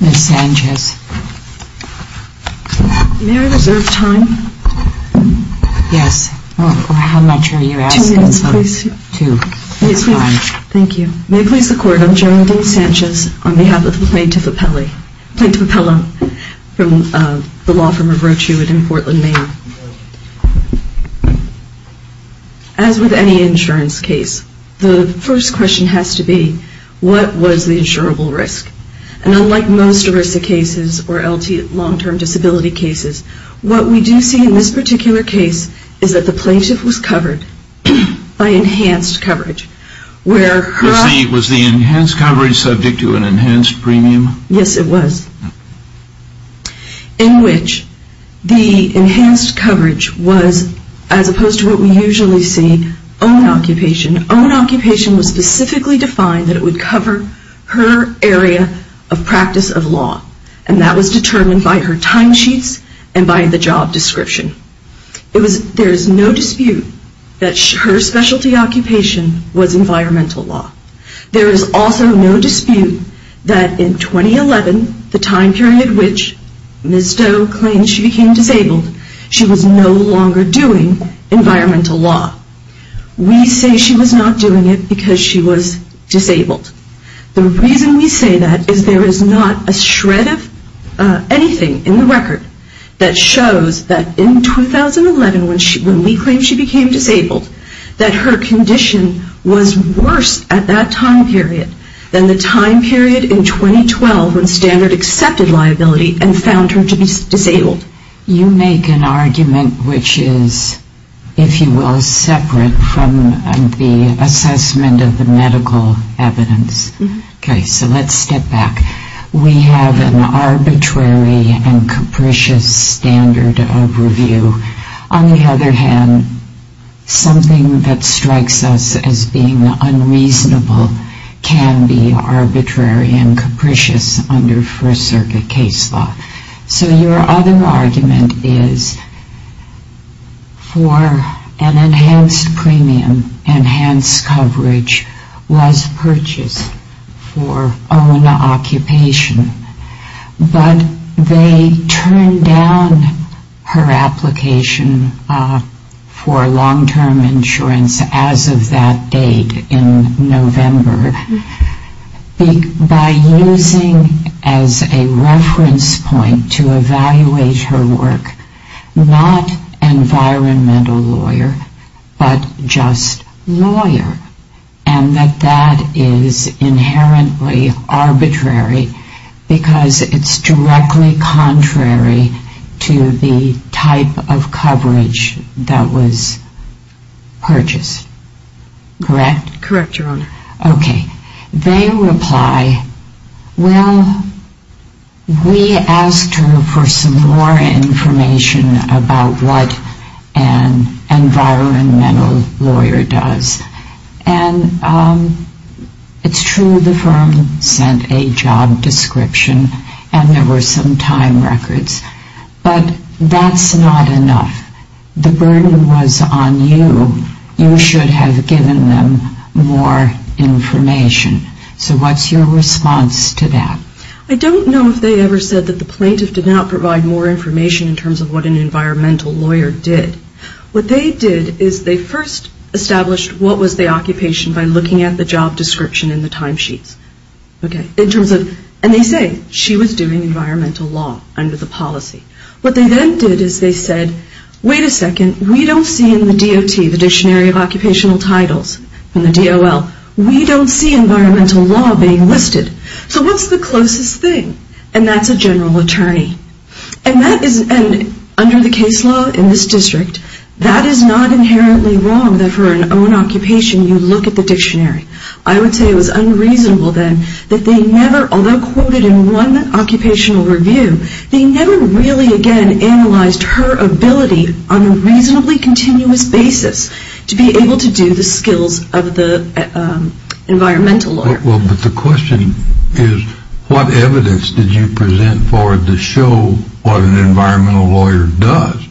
Ms. Sanchez? May I reserve time? Yes. How much are you asking for? Two minutes, please. Two minutes. Thank you. May I please the Court of General Dean Sanchez on behalf of the plaintiff appellee, plaintiff appellee from the law firm of Rochewood in Portland, Maine. As with any insurance case, the first question has to be, what was the insurable risk? And unlike most ERISA cases or LT long-term disability cases, what we do see in this particular case is that the plaintiff was covered by enhanced coverage. Was the enhanced coverage subject to an enhanced premium? Yes, it was. In which the enhanced coverage was, as opposed to what we usually see, own occupation. Own occupation was specifically defined that it would cover her area of practice of law and that was determined by her time sheets and by the job description. There is no dispute that her specialty occupation was environmental law. There is also no dispute that in 2011, the time period in which Ms. Doe claimed she became disabled, she was no longer doing environmental law. We say she was not doing it because she was disabled. The reason we say that is there is not a shred of anything in the record that shows that in 2011, when we claimed she became disabled, that her condition was worse at that time period than the time period in 2012 when Standard accepted liability and found her to be disabled. You make an argument which is, if you will, separate from the assessment of the medical evidence. Okay, so let's step back. We have an arbitrary and capricious standard of review. On the other hand, something that strikes us as being unreasonable can be arbitrary and capricious under First Circuit case law. So your other argument is for an enhanced premium, enhanced coverage was purchased for own occupation, but they turned down her application for long-term insurance as of that date in November. By using as a reference point to evaluate her work, not environmental lawyer, but just lawyer, and that that is inherently arbitrary because it's directly contrary to the type of coverage that was purchased. Correct? Correct, Your Honor. information. So what's your response to that? I don't know if they ever said that the plaintiff did not provide more information in terms of what an environmental lawyer did. What they did is they first established what was the occupation by looking at the job description in the timesheets. Okay, in terms of, and they say she was doing environmental law under the policy. What they then did is they said, wait a second, we don't see in the DOT, the Dictionary of Occupational Titles, in the DOT, that she was doing environmental law. We don't see environmental law being listed. So what's the closest thing? And that's a general attorney. And that is, under the case law in this district, that is not inherently wrong that for an own occupation, you look at the dictionary. I would say it was unreasonable then that they never, although quoted in one occupational review, they never really again analyzed her ability on a reasonably continuous basis to be able to do the skills of the attorney. Well, but the question is, what evidence did you present for it to show what an environmental lawyer does?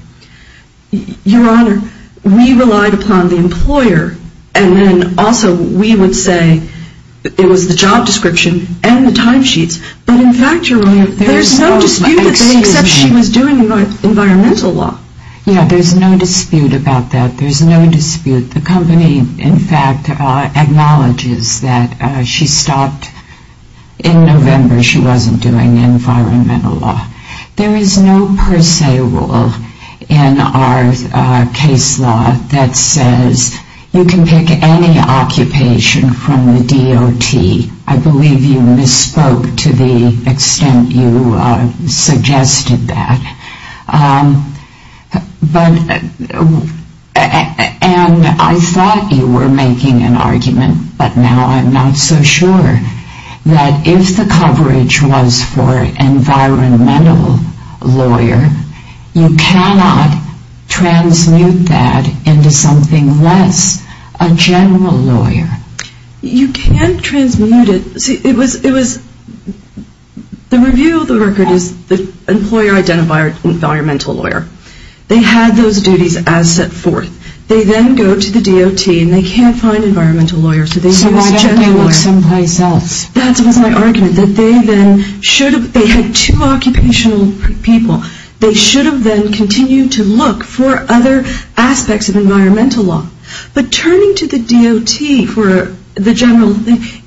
Your Honor, we relied upon the employer. And then also we would say it was the job description and the timesheets. But in fact, Your Honor, there's no dispute that she was doing environmental law. Yeah, there's no dispute about that. There's no dispute. The company, in fact, acknowledges that she stopped in November. She wasn't doing environmental law. There is no per se rule in our case law that says you can pick any occupation from the DOT. I believe you misspoke to the extent you suggested that. And I thought you were making an argument, but now I'm not so sure, that if the coverage was for environmental lawyer, you cannot transmute that into something less, a general lawyer. You can transmute it. See, it was, the review of the record is the employer identified environmental lawyer. They had those duties as set forth. They then go to the DOT and they can't find environmental lawyers. So why don't they look someplace else? That was my argument, that they then should have, they had two occupational people. They should have then continued to look for other aspects of environmental law. But turning to the DOT for the general,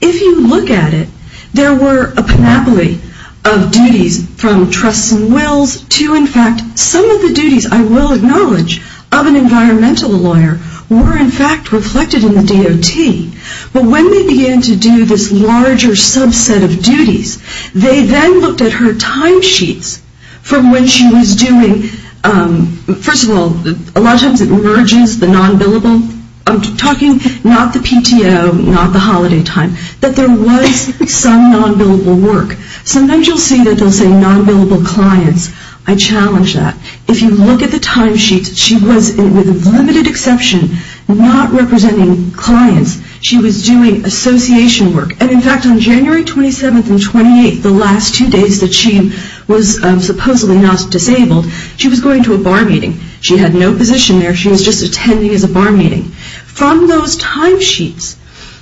if you look at it, there were a panoply of duties from trusts and wills to, in fact, some of the duties, I will acknowledge, of an environmental lawyer were in fact reflected in the DOT. But when they began to do this larger subset of duties, they then looked at her time sheets from when she was doing, first of all, a lot of times it merges the non-billable, I'm talking not the PTO, not the holiday time, that there was some non-billable work. Sometimes you'll see that they'll say non-billable clients. I challenge that. If you look at the time sheets, she was, with limited exception, not representing clients. She was doing association work. And in fact, on January 27th and 28th, the last two days that she was supposedly not disabled, she was going to a bar meeting. She had no position there. She was just attending as a bar meeting. From those time sheets,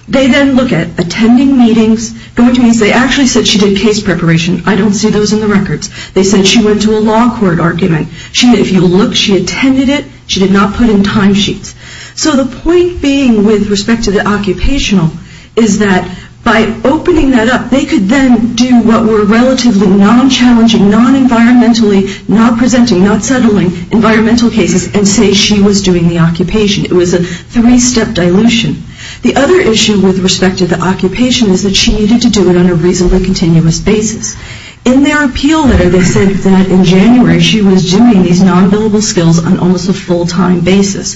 they then look at attending meetings. They actually said she did case preparation. I don't see those in the records. They said she went to a law court argument. If you look, she attended it. She did not put in time sheets. So the point being with respect to the occupational is that by opening that up, they could then do what were relatively non-challenging, non-environmentally, not presenting, not settling environmental cases and say she was doing the occupation. It was a three-step dilution. The other issue with respect to the occupation is that she needed to do it on a reasonably continuous basis. In their appeal letter, they said that in January, she was doing these non-billable skills on almost a full-time basis.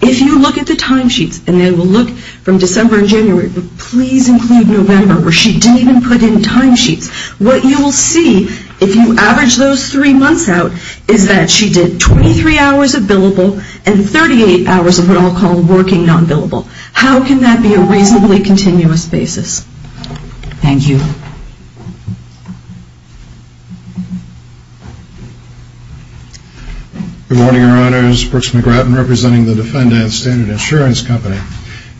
If you look at the time sheets, and then we'll look from December and January, but please include November, where she didn't even put in time sheets. What you will see, if you average those three months out, is that she did 23 hours of billable and 38 hours of what I'll call working non-billable. How can that be a reasonably continuous basis? Thank you. Good morning, Your Honors. Brooks McGratton representing the Defendant Standard Insurance Company.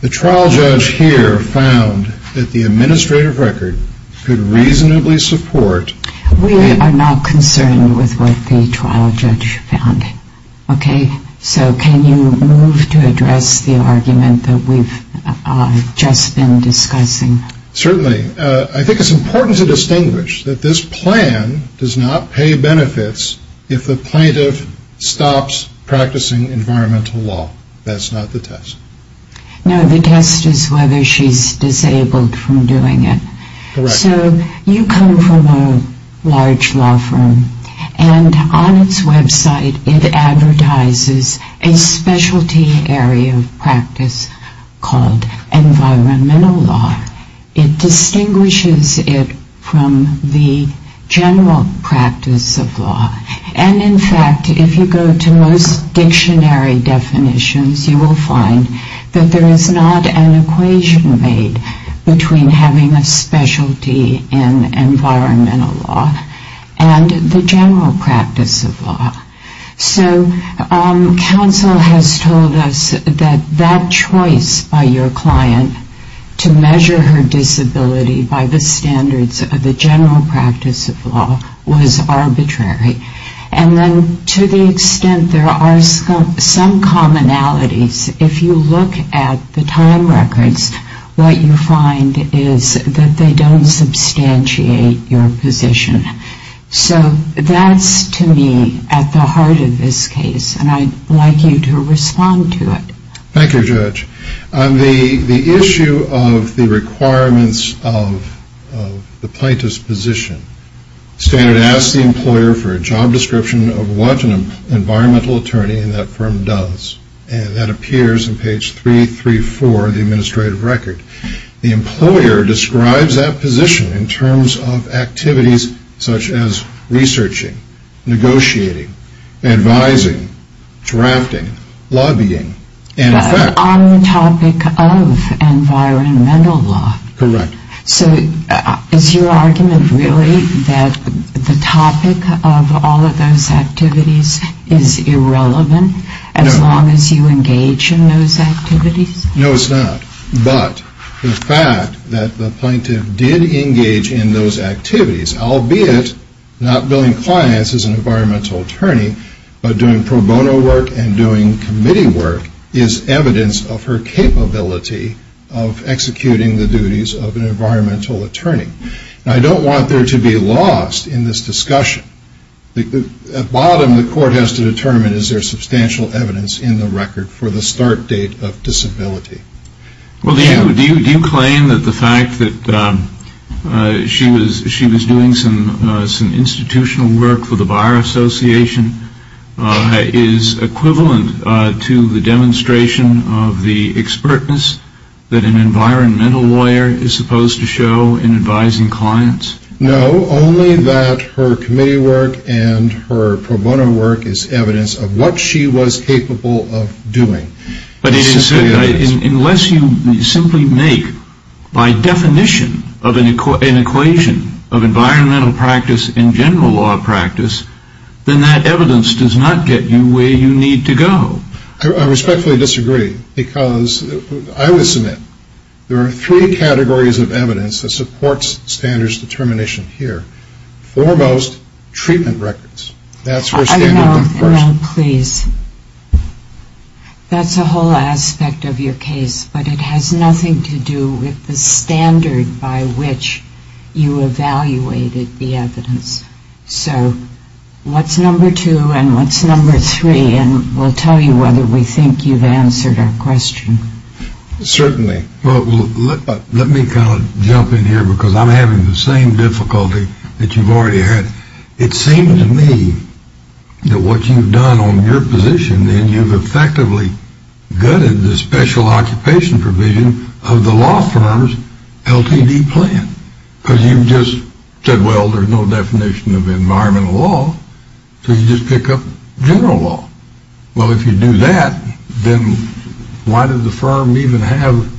The trial judge here found that the administrative record could reasonably support We are not concerned with what the trial judge found. Okay? So can you move to address the argument that we've just been discussing? Certainly. I think it's important to distinguish that this plan does not pay benefits if the plaintiff stops practicing environmental law. That's not the test. No, the test is whether she's disabled from doing it. Correct. So you come from a large law firm, and on its website it advertises a specialty area of practice called environmental law. It distinguishes it from the general practice of law. And in fact, if you go to most dictionary definitions, you will find that there is not an equation made between having a specialty in environmental law and the general practice of law. So counsel has told us that that choice by your client to measure her disability by the standards of the general practice of law was arbitrary. And then to the extent there are some commonalities, if you look at the time records, what you find is that they don't substantiate your position. So that's to me at the heart of this case, and I'd like you to respond to it. Thank you, Judge. On the issue of the requirements of the plaintiff's position, standard asks the employer for a job description of what an environmental attorney in that firm does. And that appears on page 334 of the administrative record. The employer describes that position in terms of activities such as researching, negotiating, advising, drafting, lobbying, and in fact... No, it's not. But the fact that the plaintiff did engage in those activities, albeit not billing clients as an environmental attorney, but doing pro bono work and doing committee work, is evidence of her capability of executing the duties of an environmental attorney. And I don't want there to be lost in this discussion. At the bottom, the court has to determine is there substantial evidence in the record for the start date of disability. Well, do you claim that the fact that she was doing some institutional work for the Bar Association is equivalent to the demonstration of the expertness that an environmental lawyer is supposed to show in advising clients? No, only that her committee work and her pro bono work is evidence of what she was capable of doing. But unless you simply make, by definition, an equation of environmental practice and general law practice, then that evidence does not get you where you need to go. I respectfully disagree, because I would submit there are three categories of evidence that supports standards determination here. Foremost, treatment records. That's where standards come first. Earl, Earl, please. That's a whole aspect of your case, but it has nothing to do with the standard by which you evaluated the evidence. So what's number two and what's number three? And we'll tell you whether we think you've answered our question. Well, let me kind of jump in here, because I'm having the same difficulty that you've already had. It seems to me that what you've done on your position, then, you've effectively gutted the special occupation provision of the law firm's LTD plan. Because you've just said, well, there's no definition of environmental law, so you just pick up general law. Well, if you do that, then why does the firm even have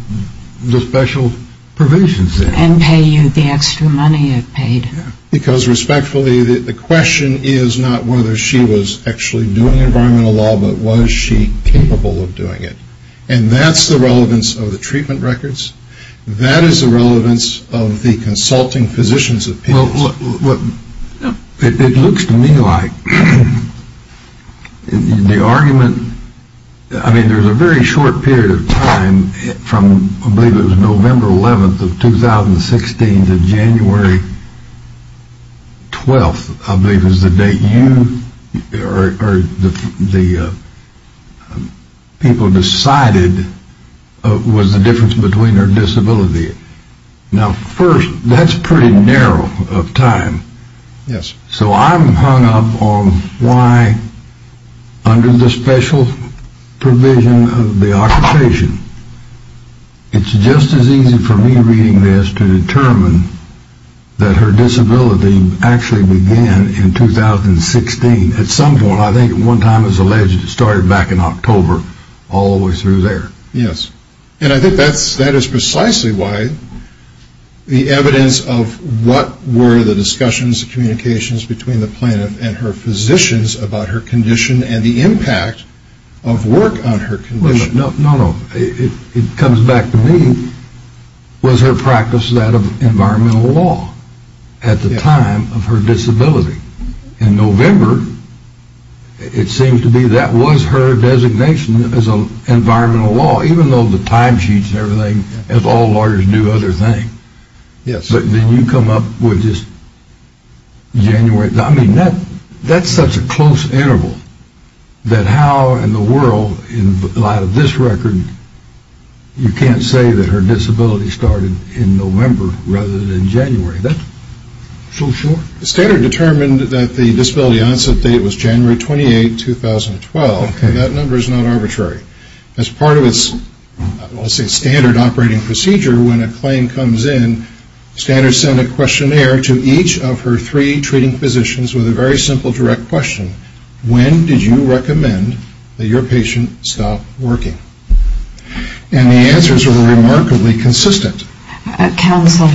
the special provisions there? And pay you the extra money it paid. Because, respectfully, the question is not whether she was actually doing environmental law, but was she capable of doing it? And that's the relevance of the treatment records. That is the relevance of the consulting positions of patients. Well, it looks to me like the argument, I mean, there's a very short period of time from, I believe it was November 11th of 2016 to January 12th, I believe is the date you or the people decided was the difference between her disability. Now, first, that's pretty narrow of time. Yes. So I'm hung up on why, under the special provision of the occupation, it's just as easy for me reading this to determine that her disability actually began in 2016. At some point, I think at one time it was alleged it started back in October, all the way through there. Yes. And I think that is precisely why the evidence of what were the discussions, the communications between the plaintiff and her physicians about her condition and the impact of work on her condition. No, no, no. It comes back to me, was her practice that of environmental law at the time of her disability? In November, it seems to me that was her designation as environmental law, even though the time sheets and everything, as all lawyers do other things. Yes. But then you come up with just January, I mean, that's such a close interval that how in the world, in light of this record, you can't say that her disability started in November rather than January. Is that so sure? Standard determined that the disability onset date was January 28, 2012. Okay. That number is not arbitrary. As part of its standard operating procedure, when a claim comes in, Standard sent a questionnaire to each of her three treating physicians with a very simple direct question. When did you recommend that your patient stop working? And the answers were remarkably consistent. Counsel,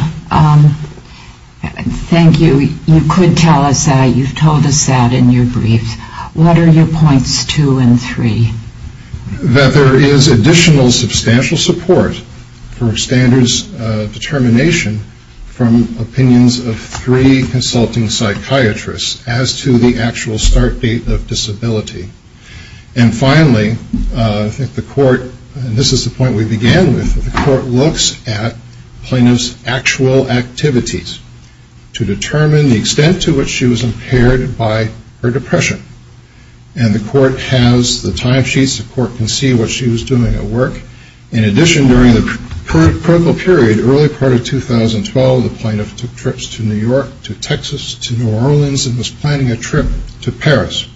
thank you. You could tell us that. You've told us that in your brief. What are your points two and three? That there is additional substantial support for Standard's determination from opinions of three consulting psychiatrists as to the actual start date of disability. And finally, I think the court, and this is the point we began with, the court looks at plaintiff's actual activities to determine the extent to which she was impaired by her depression. And the court has the time sheets. The court can see what she was doing at work. In addition, during the critical period, early part of 2012, the plaintiff took trips to New York, to Texas, to New Orleans, and was planning a trip to Paris.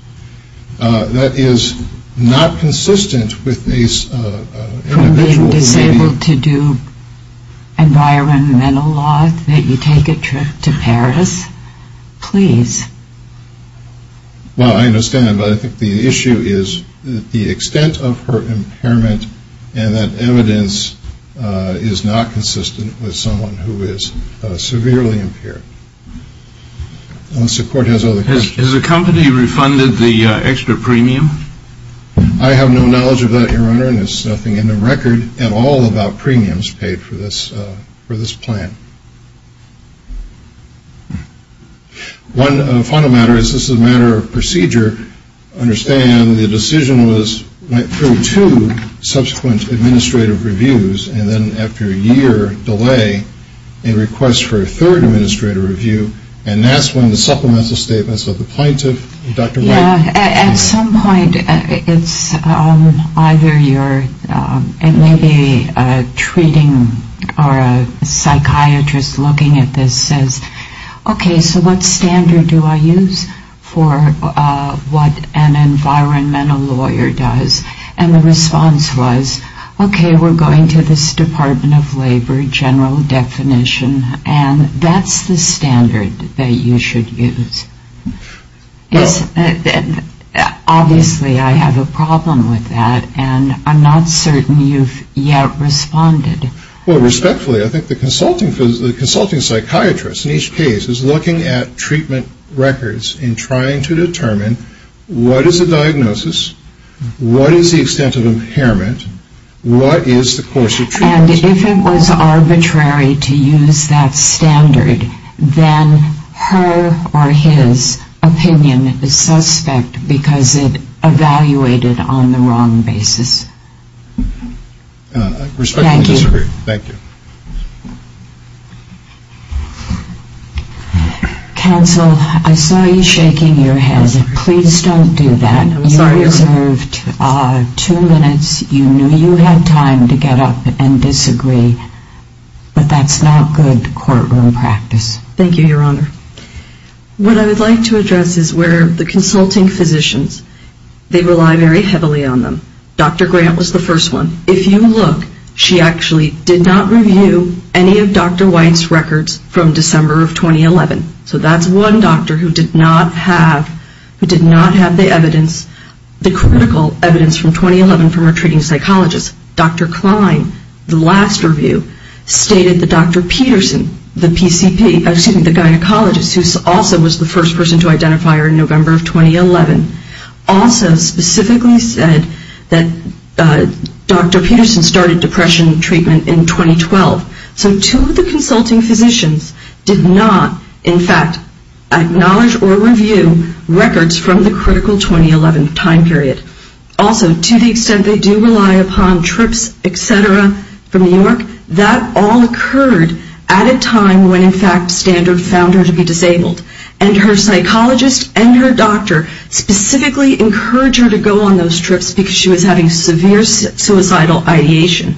That is not consistent with these individuals. From being disabled to do environmental laws, that you take a trip to Paris? Please. Well, I understand, but I think the issue is the extent of her impairment and that evidence is not consistent with someone who is severely impaired. Unless the court has other questions. Has the company refunded the extra premium? I have no knowledge of that, Your Honor, and there's nothing in the record at all about premiums paid for this plan. One final matter. This is a matter of procedure. I understand the decision went through two subsequent administrative reviews, and then after a year delay, a request for a third administrative review, and that's when the supplemental statements of the plaintiff, Dr. White. At some point, it's either your, it may be a treating or a psychiatrist looking at this says, okay, so what standard do I use for what an environmental lawyer does? And the response was, okay, we're going to this Department of Labor general definition, and that's the standard that you should use. Obviously, I have a problem with that, and I'm not certain you've yet responded. Well, respectfully, I think the consulting psychiatrist in each case is looking at treatment records and trying to determine what is a diagnosis, what is the extent of impairment, what is the course of treatment. And if it was arbitrary to use that standard, then her or his opinion is suspect because it evaluated on the wrong basis. I respectfully disagree. Thank you. Thank you. Counsel, I saw you shaking your head. Please don't do that. I'm sorry. You reserved two minutes. You knew you had time to get up and disagree, but that's not good courtroom practice. Thank you, Your Honor. What I would like to address is where the consulting physicians, they rely very heavily on them. Dr. Grant was the first one. If you look, she actually did not review any of Dr. White's records from December of 2011. So that's one doctor who did not have the evidence, the critical evidence from 2011 from her treating psychologist. Dr. Klein, the last review, stated that Dr. Peterson, the PCP, excuse me, the gynecologist, who also was the first person to identify her in November of 2011, also specifically said that Dr. Peterson started depression treatment in 2012. So two of the consulting physicians did not, in fact, acknowledge or review records from the critical 2011 time period. Also, to the extent they do rely upon trips, et cetera, from New York, that all occurred at a time when, in fact, Standard found her to be disabled. And her psychologist and her doctor specifically encouraged her to go on those trips because she was having severe suicidal ideation.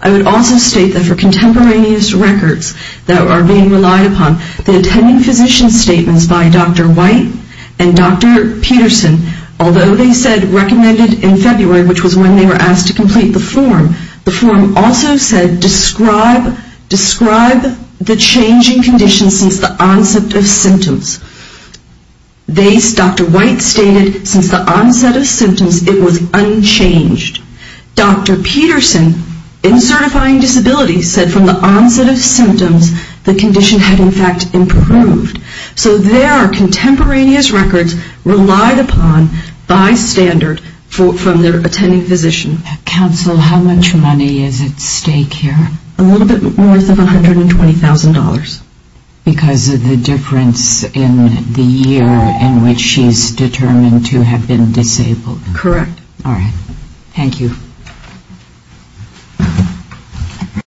I would also state that for contemporaneous records that are being relied upon, the attending physician statements by Dr. White and Dr. Peterson, although they said recommended in February, which was when they were asked to complete the form, the form also said describe the changing conditions since the onset of symptoms. Dr. White stated since the onset of symptoms, it was unchanged. Dr. Peterson, in certifying disability, said from the onset of symptoms, the condition had, in fact, improved. So there are contemporaneous records relied upon by Standard from their attending physician. Counsel, how much money is at stake here? A little bit more than $120,000. Because of the difference in the year in which she is determined to have been disabled. Correct. All right. Thank you.